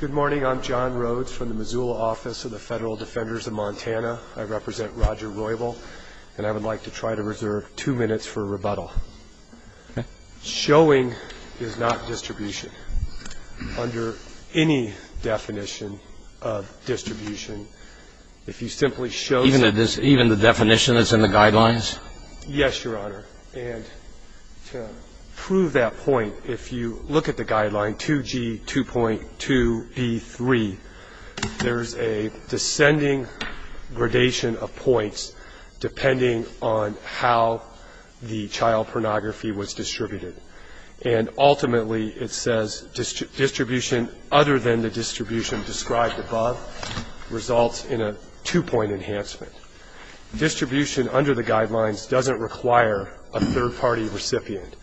Good morning. I'm John Rhodes from the Missoula Office of the Federal Defenders of Montana. I represent Roger Roybal, and I would like to try to reserve two minutes for a rebuttal. Showing is not distribution. Under any definition of distribution, if you simply show the Even the definition that's in the guidelines? Yes, Your Honor. And to prove that point, if you look at the guideline 2G2.2B3, there's a descending gradation of points depending on how the child pornography was distributed. And ultimately, it says distribution other than the distribution described above results in a two-point enhancement. Distribution under the guidelines doesn't require a third-party recipient.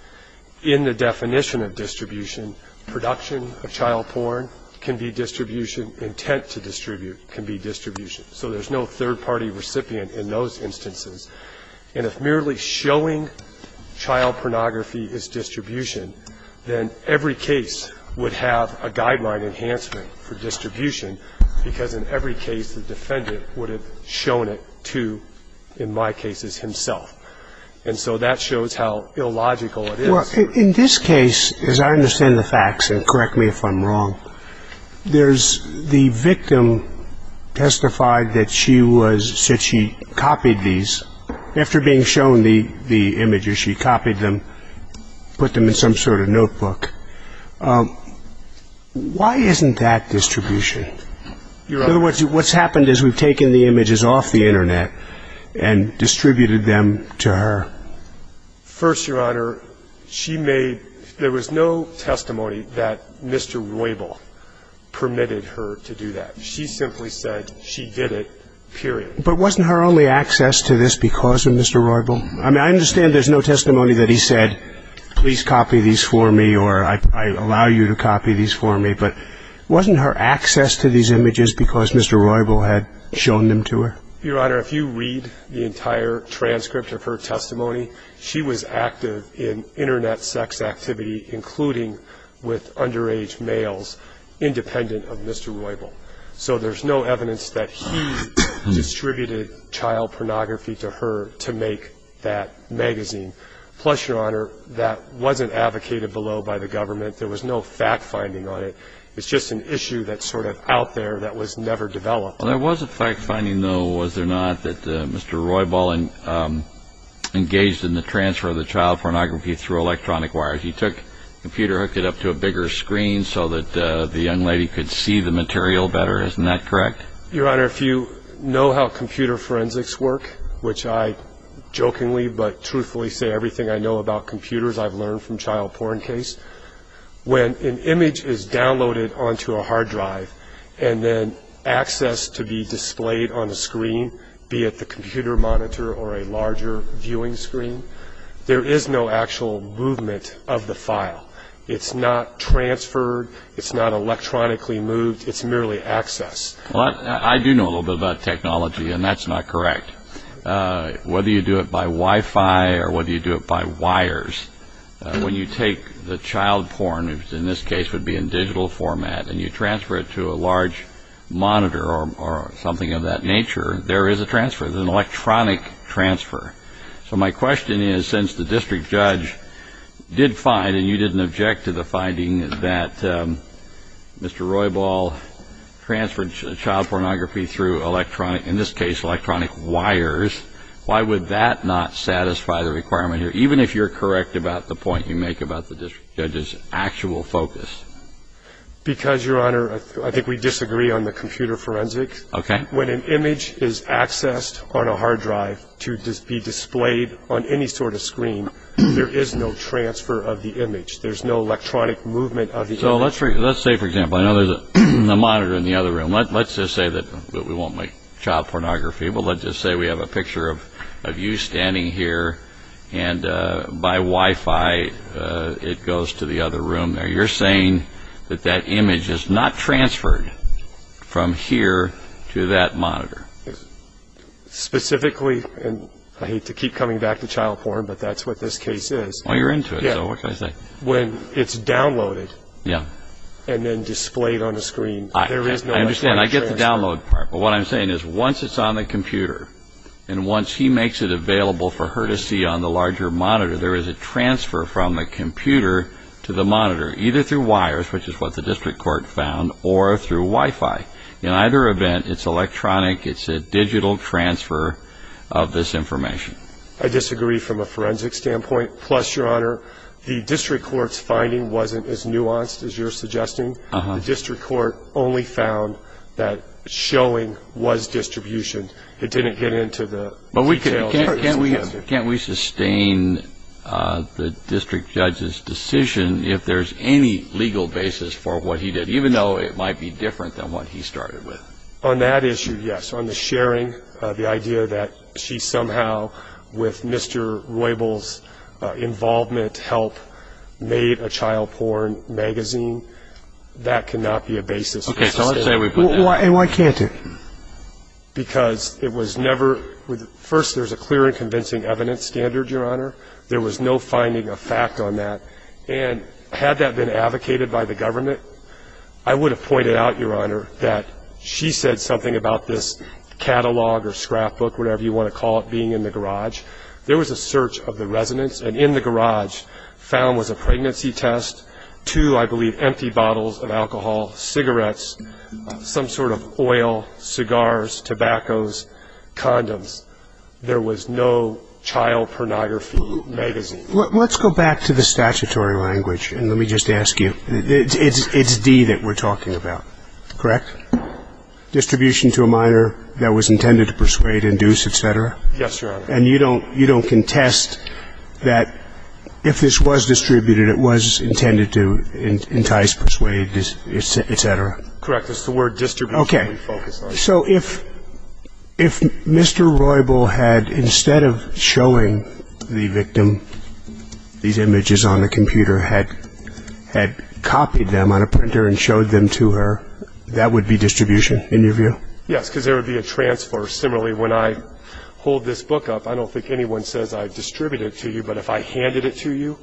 In the definition of distribution, production of child porn can be distribution, intent to distribute can be distribution. So there's no third-party recipient in those instances. And if merely showing child pornography is distribution, then every case would have a guideline enhancement for distribution, because in every case, the defendant would have shown it to, in my cases, himself. And so that shows how illogical it is. Well, in this case, as I understand the facts, and correct me if I'm wrong, there's the victim testified that she was – said she copied these. After being shown the images, she copied them, put them in some sort of notebook. Why isn't that distribution? In other words, what's happened is we've taken the images off the Internet and distributed them to her. First, Your Honor, she made – there was no testimony that Mr. Roybal permitted her to do that. She simply said she did it, period. But wasn't her only access to this because of Mr. Roybal? I mean, I understand there's no testimony that he said, please copy these for me or I allow you to copy these for me, but wasn't her access to these images because Mr. Roybal had shown them to her? Your Honor, if you read the entire transcript of her testimony, she was active in Internet sex activity, including with underage males, independent of Mr. Roybal. So there's no evidence that he distributed child pornography to her to make that magazine. Plus, Your Honor, that wasn't advocated below by the government. There was no fact-finding on it. It's just an issue that's sort of out there that was never developed. Well, there was a fact-finding, though, was there not, that Mr. Roybal engaged in the transfer of the child pornography through electronic wires. He took the computer, hooked it up to a bigger screen so that the young lady could see the material better. Isn't that correct? Your Honor, if you know how computer forensics work, which I jokingly but truthfully say everything I know about computers I've learned from child porn case, when an image is downloaded onto a hard drive and then accessed to be displayed on a screen, be it the computer monitor or a larger viewing screen, there is no actual movement of the file. It's not transferred. It's not electronically moved. It's merely accessed. Well, I do know a little bit about technology, and that's not correct. Whether you do it by Wi-Fi or whether you do it by wires, when you take the child porn, which in this case would be in digital format, and you transfer it to a large monitor or something of that nature, there is a transfer. There's an electronic transfer. So my question is, since the district judge did find, and you didn't object to the finding, that Mr. Roybal transferred child pornography through electronic, in this case electronic wires, why would that not satisfy the requirement here, even if you're correct about the point you make about the district judge's actual focus? Because, Your Honor, I think we disagree on the computer forensics. Okay. When an image is accessed on a hard drive to be displayed on any sort of screen, there is no transfer of the image. There's no electronic movement of the image. So let's say, for example, I know there's a monitor in the other room. Let's just say that we won't make child pornography, but let's just say we have a picture of you standing here, and by Wi-Fi it goes to the other room there. So you're saying that that image is not transferred from here to that monitor. Specifically, and I hate to keep coming back to child porn, but that's what this case is. Well, you're into it, so what can I say? When it's downloaded and then displayed on a screen, there is no electronic transfer. I understand. I get the download part. But what I'm saying is once it's on the computer and once he makes it available for her to see on the larger monitor, there is a transfer from the computer to the monitor, either through wires, which is what the district court found, or through Wi-Fi. In either event, it's electronic. It's a digital transfer of this information. I disagree from a forensic standpoint. Plus, Your Honor, the district court's finding wasn't as nuanced as you're suggesting. The district court only found that showing was distribution. It didn't get into the details. Can't we sustain the district judge's decision if there's any legal basis for what he did, even though it might be different than what he started with? On that issue, yes. On the sharing, the idea that she somehow, with Mr. Roybal's involvement, helped make a child porn magazine, that cannot be a basis. Okay, so let's say we put that in. And why can't it? Because it was never, first, there's a clear and convincing evidence standard, Your Honor. There was no finding of fact on that. And had that been advocated by the government, I would have pointed out, Your Honor, that she said something about this catalog or scrapbook, whatever you want to call it, being in the garage. There was a search of the residence, and in the garage found was a pregnancy test, two, I believe, empty bottles of alcohol, cigarettes, some sort of oil, cigars, tobaccos, condoms. There was no child pornography magazine. Let's go back to the statutory language, and let me just ask you. It's D that we're talking about, correct? Distribution to a minor that was intended to persuade, induce, et cetera? Yes, Your Honor. And you don't contest that if this was distributed, it was intended to entice, persuade, et cetera? Correct. It's the word distribution we focus on. Okay. So if Mr. Roybal had, instead of showing the victim these images on the computer, had copied them on a printer and showed them to her, that would be distribution, in your view? Yes, because there would be a transfer. Similarly, when I hold this book up, I don't think anyone says I've distributed it to you, but if I handed it to you,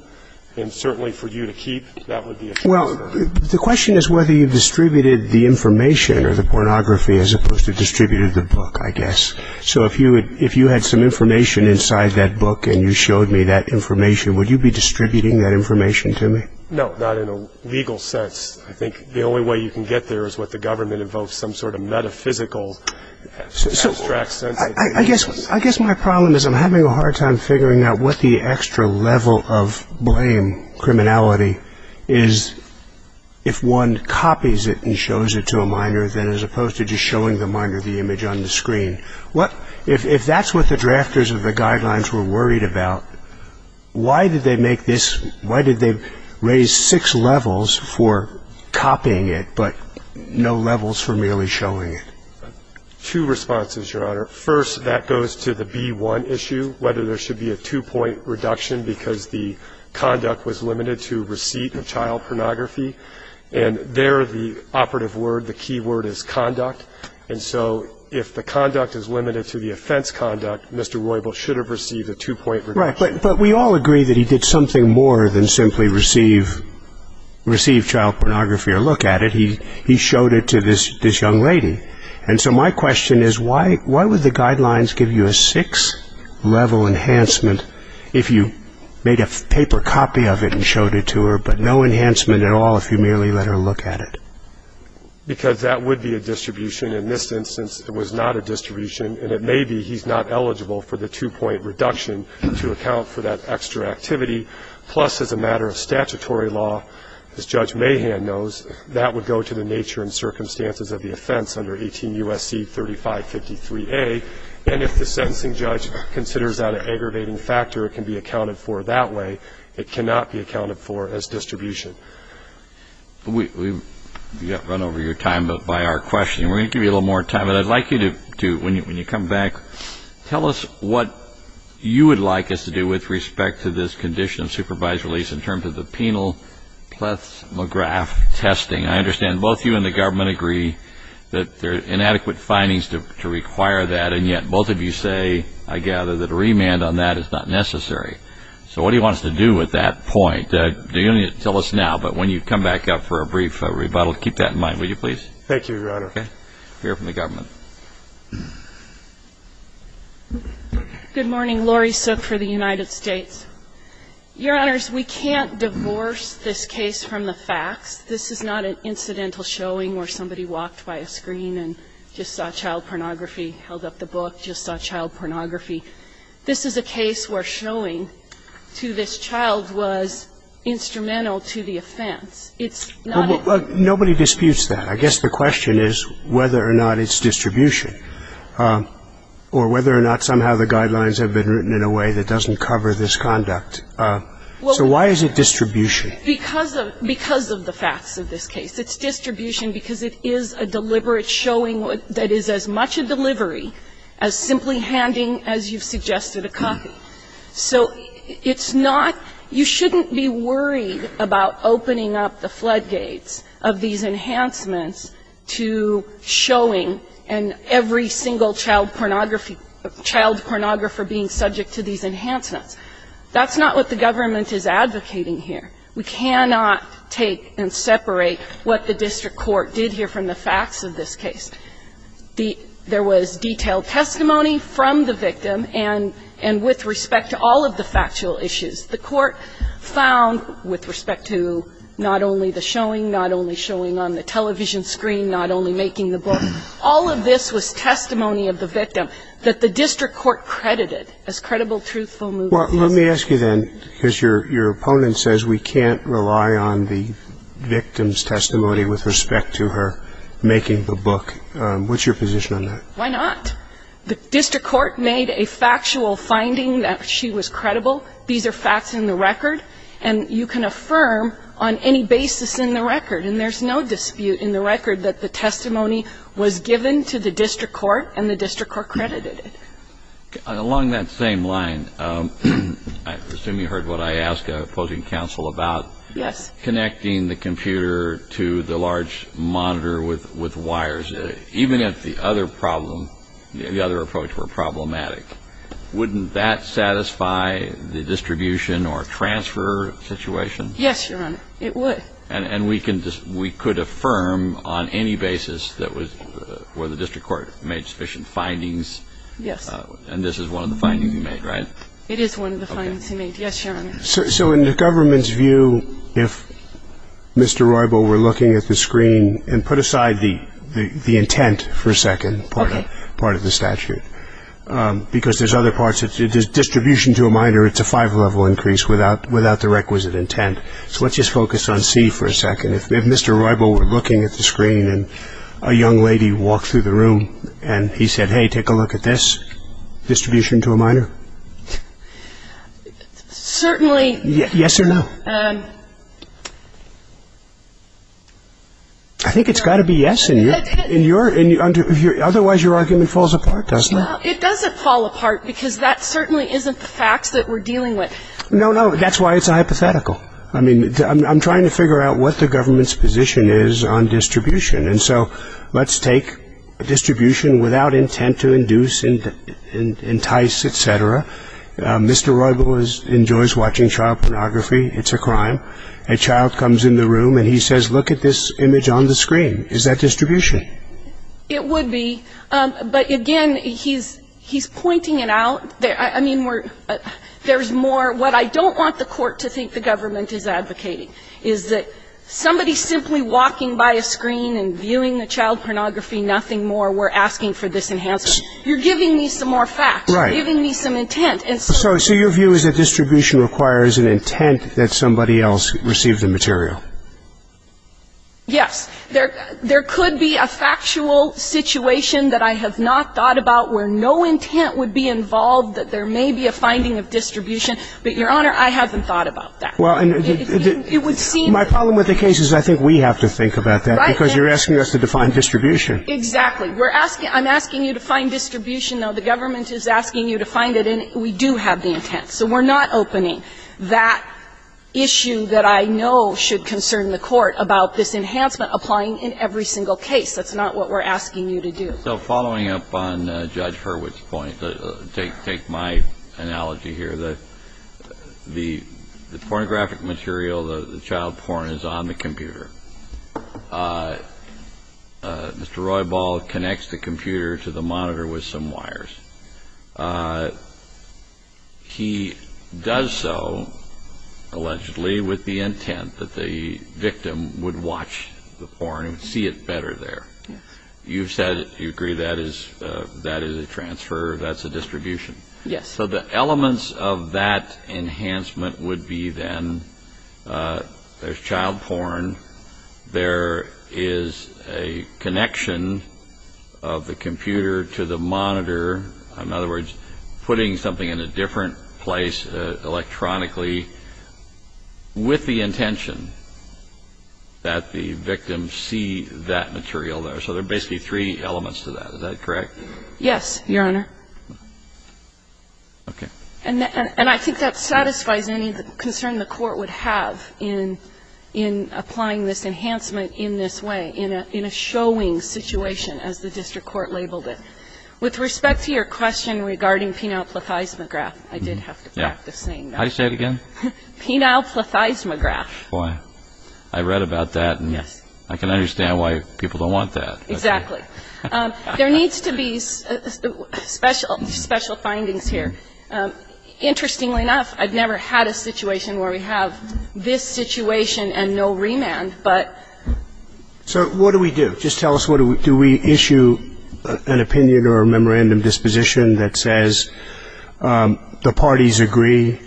and certainly for you to keep, that would be a transfer. Well, the question is whether you distributed the information or the pornography as opposed to distributed the book, I guess. So if you had some information inside that book and you showed me that information, would you be distributing that information to me? No, not in a legal sense. I think the only way you can get there is what the government invokes, some sort of metaphysical abstract sense. I guess my problem is I'm having a hard time figuring out what the extra level of blame, criminality, is if one copies it and shows it to a minor, as opposed to just showing the minor the image on the screen. If that's what the drafters of the guidelines were worried about, why did they make this – why did they raise six levels for copying it, but no levels for merely showing it? Two responses, Your Honor. First, that goes to the B-1 issue, whether there should be a two-point reduction because the conduct was limited to receipt of child pornography. And there the operative word, the key word is conduct. And so if the conduct is limited to the offense conduct, Mr. Roybal should have received a two-point reduction. Right, but we all agree that he did something more than simply receive child pornography or look at it. He showed it to this young lady. And so my question is why would the guidelines give you a six-level enhancement if you made a paper copy of it and showed it to her, but no enhancement at all if you merely let her look at it? Because that would be a distribution. In this instance, it was not a distribution, and it may be he's not eligible for the two-point reduction to account for that extra activity. Plus, as a matter of statutory law, as Judge Mahan knows, that would go to the nature and circumstances of the offense under 18 U.S.C. 3553A. And if the sentencing judge considers that an aggravating factor, it can be accounted for that way. It cannot be accounted for as distribution. We've run over your time by our questioning. We're going to give you a little more time. But I'd like you to, when you come back, tell us what you would like us to do with respect to this condition of supervised release in terms of the penal plethysmograph testing. I understand both you and the government agree that there are inadequate findings to require that, and yet both of you say, I gather, that a remand on that is not necessary. So what do you want us to do with that point? You don't need to tell us now, but when you come back up for a brief rebuttal, keep that in mind, will you please? Thank you, Your Honor. Okay. We'll hear from the government. Good morning. Laurie Sook for the United States. Your Honors, we can't divorce this case from the facts. This is not an incidental showing where somebody walked by a screen and just saw child pornography, held up the book, just saw child pornography. This is a case where showing to this child was instrumental to the offense. It's not a ---- Well, nobody disputes that. I guess the question is whether or not it's distribution or whether or not somehow the guidelines have been written in a way that doesn't cover this conduct. So why is it distribution? Because of the facts of this case. It's distribution because it is a deliberate showing that is as much a delivery So it's not ---- you shouldn't be worried about opening up the floodgates of these enhancements to showing every single child pornography, child pornographer being subject to these enhancements. That's not what the government is advocating here. We cannot take and separate what the district court did here from the facts of this case. There was detailed testimony from the victim and with respect to all of the factual issues. The court found, with respect to not only the showing, not only showing on the television screen, not only making the book, all of this was testimony of the victim that the district court credited as credible, truthful movements. Well, let me ask you then, because your opponent says we can't rely on the victim's book, what's your position on that? Why not? The district court made a factual finding that she was credible. These are facts in the record. And you can affirm on any basis in the record, and there's no dispute in the record that the testimony was given to the district court and the district court credited it. Along that same line, I assume you heard what I asked opposing counsel about. Yes. Connecting the computer to the large monitor with wires, even if the other problem, the other approach were problematic, wouldn't that satisfy the distribution or transfer situation? Yes, Your Honor. It would. And we could affirm on any basis that the district court made sufficient findings. Yes. And this is one of the findings he made, right? It is one of the findings he made. Yes, Your Honor. So in the government's view, if Mr. Roybal were looking at the screen, and put aside the intent for a second part of the statute, because there's other parts. Distribution to a minor, it's a five-level increase without the requisite intent. So let's just focus on C for a second. If Mr. Roybal were looking at the screen and a young lady walked through the room and he said, hey, take a look at this, distribution to a minor? Certainly. Yes or no? I think it's got to be yes, otherwise your argument falls apart, doesn't it? It doesn't fall apart because that certainly isn't the facts that we're dealing with. No, no, that's why it's a hypothetical. I mean, I'm trying to figure out what the government's position is on distribution. And so let's take distribution without intent to induce and entice, et cetera. Mr. Roybal enjoys watching child pornography. It's a crime. A child comes in the room and he says, look at this image on the screen. Is that distribution? It would be. But, again, he's pointing it out. I mean, there's more. What I don't want the Court to think the government is advocating is that somebody simply walking by a screen and viewing the child pornography, nothing more, we're asking for this enhancement. You're giving me some more facts. You're giving me some intent. So your view is that distribution requires an intent that somebody else received the material? Yes. There could be a factual situation that I have not thought about where no intent would be involved, that there may be a finding of distribution. But, Your Honor, I haven't thought about that. Well, my problem with the case is I think we have to think about that, because you're asking us to define distribution. Exactly. I'm asking you to find distribution, though the government is asking you to find it, and we do have the intent. So we're not opening that issue that I know should concern the Court about this enhancement applying in every single case. That's not what we're asking you to do. So following up on Judge Hurwitz's point, take my analogy here. The pornographic material, the child porn, is on the computer. Mr. Roybal connects the computer to the monitor with some wires. He does so, allegedly, with the intent that the victim would watch the porn and see it better there. You've said you agree that is a transfer, that's a distribution. Yes. So the elements of that enhancement would be then there's child porn, there is a connection of the computer to the monitor, in other words, putting something in a different place electronically with the intention that the victim see that material there. So there are basically three elements to that. Is that correct? Yes, Your Honor. Okay. And I think that satisfies any concern the Court would have in applying this enhancement in this way, in a showing situation, as the district court labeled it. With respect to your question regarding penile plethysmograph, I did have to practice saying that. How do you say it again? Penile plethysmograph. Boy, I read about that and I can understand why people don't want that. Exactly. There needs to be special findings here. Interestingly enough, I've never had a situation where we have this situation and no remand, but. So what do we do? Just tell us, do we issue an opinion or a memorandum disposition that says the parties agree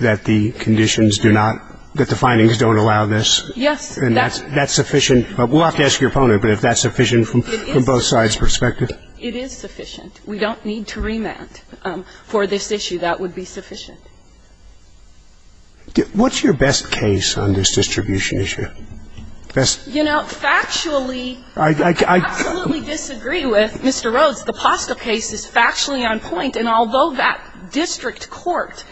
that the conditions do not, that the findings don't allow this? Yes. And that's sufficient. We'll have to ask your opponent, but is that sufficient from both sides' perspective? It is sufficient. We don't need to remand for this issue. That would be sufficient. What's your best case on this distribution issue? You know, factually, I absolutely disagree with Mr. Rhodes. The Postel case is factually on point. And although that district court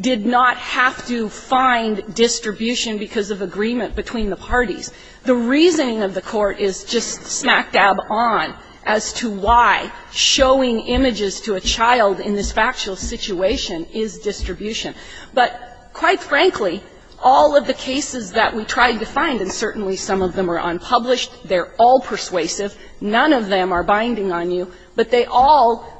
did not have to find distribution because of agreement between the parties, the reasoning of the court is just smack dab on as to why showing images to a child in this factual situation is distribution. But quite frankly, all of the cases that we tried to find, and certainly some of them are unpublished, they're all persuasive, none of them are binding on you, but they all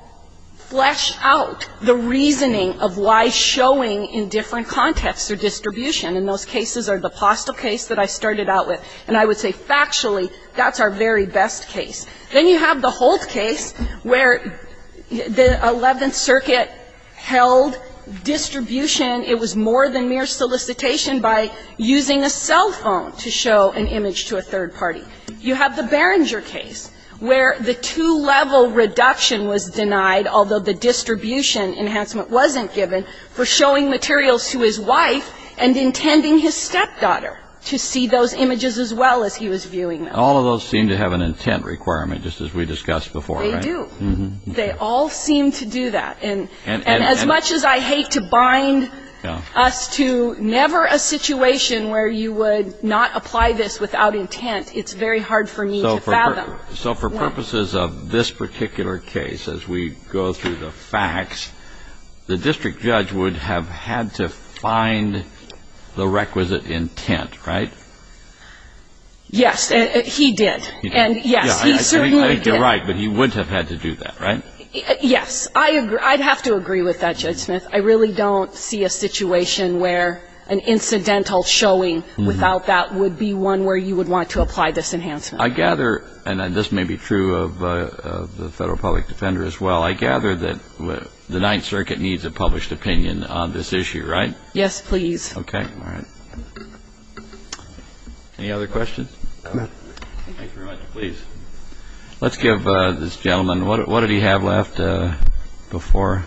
flesh out the reasoning of why showing in different contexts are distribution. And those cases are the Postel case that I started out with. And I would say factually that's our very best case. Then you have the Holt case where the Eleventh Circuit held distribution, it was more than mere solicitation, by using a cell phone to show an image to a third party. You have the Berenger case where the two-level reduction was denied, although the distribution enhancement wasn't given, for showing materials to his wife and intending his stepdaughter to see those images as well as he was viewing them. All of those seem to have an intent requirement, just as we discussed before. They do. They all seem to do that. And as much as I hate to bind us to never a situation where you would not apply this without intent, it's very hard for me to fathom. So for purposes of this particular case, as we go through the facts, the district judge would have had to find the requisite intent, right? Yes, he did. And yes, he certainly did. I think you're right, but he wouldn't have had to do that, right? Yes. I'd have to agree with that, Judge Smith. I really don't see a situation where an incidental showing without that would be one where you would want to apply this enhancement. I gather, and this may be true of the Federal Public Defender as well, I gather that the Ninth Circuit needs a published opinion on this issue, right? Yes, please. Okay. All right. Any other questions? No. Thank you very much. Please. Let's give this gentleman, what did he have left before?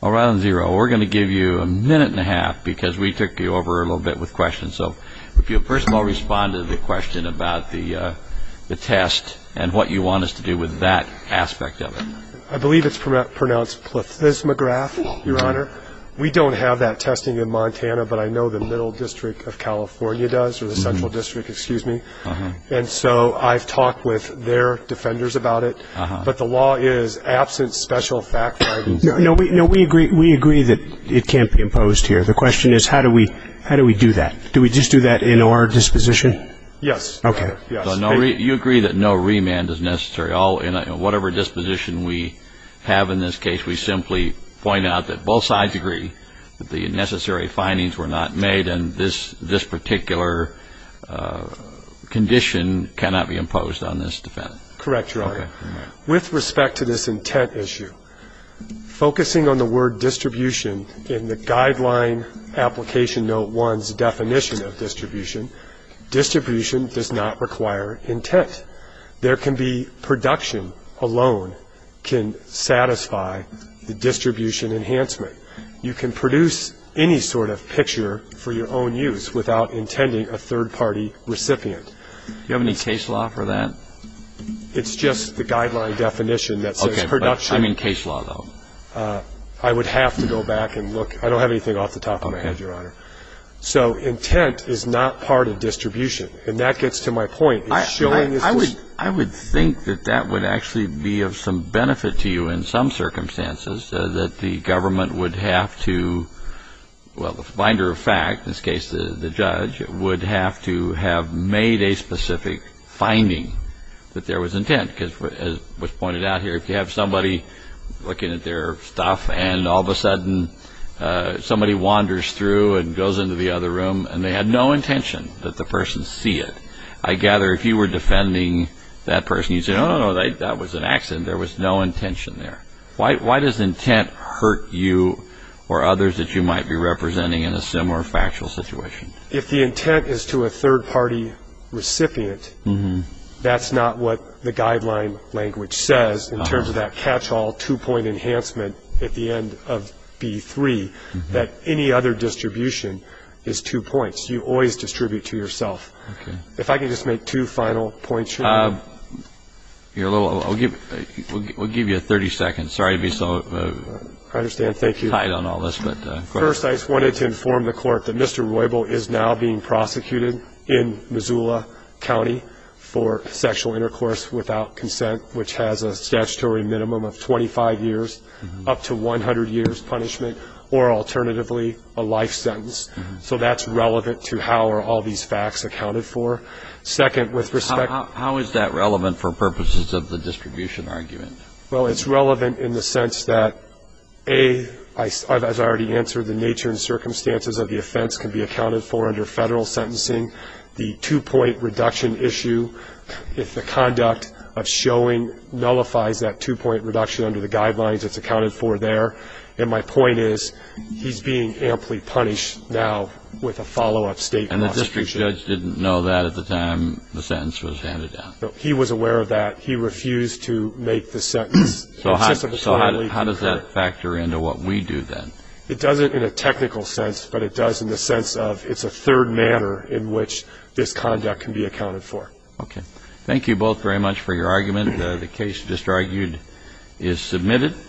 Well, rather than zero, we're going to give you a minute and a half because we took you over a little bit with questions. So if you'll first of all respond to the question about the test and what you want us to do with that aspect of it. I believe it's pronounced plethysmograph, Your Honor. We don't have that testing in Montana, but I know the Middle District of California does, or the Central District, excuse me. And so I've talked with their defenders about it. But the law is absent special fact guidance. No, we agree that it can't be imposed here. The question is how do we do that? Do we just do that in our disposition? Yes. Okay. You agree that no remand is necessary. Whatever disposition we have in this case, we simply point out that both sides agree that the necessary findings were not made and this particular condition cannot be imposed on this defendant. Correct, Your Honor. Okay. With respect to this intent issue, focusing on the word distribution in the guideline application note one's definition of distribution, distribution does not require intent. There can be production alone can satisfy the distribution enhancement. You can produce any sort of picture for your own use without intending a third-party recipient. Do you have any case law for that? It's just the guideline definition that says production. Okay. I mean case law, though. I would have to go back and look. I don't have anything off the top of my head, Your Honor. Okay. So intent is not part of distribution. And that gets to my point. I would think that that would actually be of some benefit to you in some circumstances, that the government would have to, well, the binder of fact, in this case the judge, would have to have made a specific finding that there was intent. Because as was pointed out here, if you have somebody looking at their stuff and all of a sudden somebody wanders through and goes into the other room and they had no intention that the person see it, I gather if you were defending that person, you'd say, oh, no, no, that was an accident. There was no intention there. Why does intent hurt you or others that you might be representing in a similar factual situation? If the intent is to a third-party recipient, that's not what the guideline language says in terms of that catch-all two-point enhancement at the end of B-3, that any other distribution is two points. You always distribute to yourself. Okay. If I could just make two final points here. We'll give you 30 seconds. Sorry to be so tight on all this, but go ahead. First, I just wanted to inform the Court that Mr. Roybal is now being prosecuted in Missoula County for sexual intercourse without consent, which has a statutory minimum of 25 years, up to 100 years punishment, or alternatively a life sentence. So that's relevant to how are all these facts accounted for. Second, with respect to the distribution argument. How is that relevant for purposes of the distribution argument? Well, it's relevant in the sense that, A, as I already answered, the nature and circumstances of the offense can be accounted for under Federal sentencing. The two-point reduction issue, if the conduct of showing nullifies that two-point reduction under the guidelines, it's accounted for there. And my point is he's being amply punished now with a follow-up statement. And the district judge didn't know that at the time the sentence was handed down? No, he was aware of that. He refused to make the sentence. So how does that factor into what we do then? It doesn't in a technical sense, but it does in the sense of it's a third matter in which this conduct can be accounted for. Okay. Thank you both very much for your argument. The case just argued is submitted.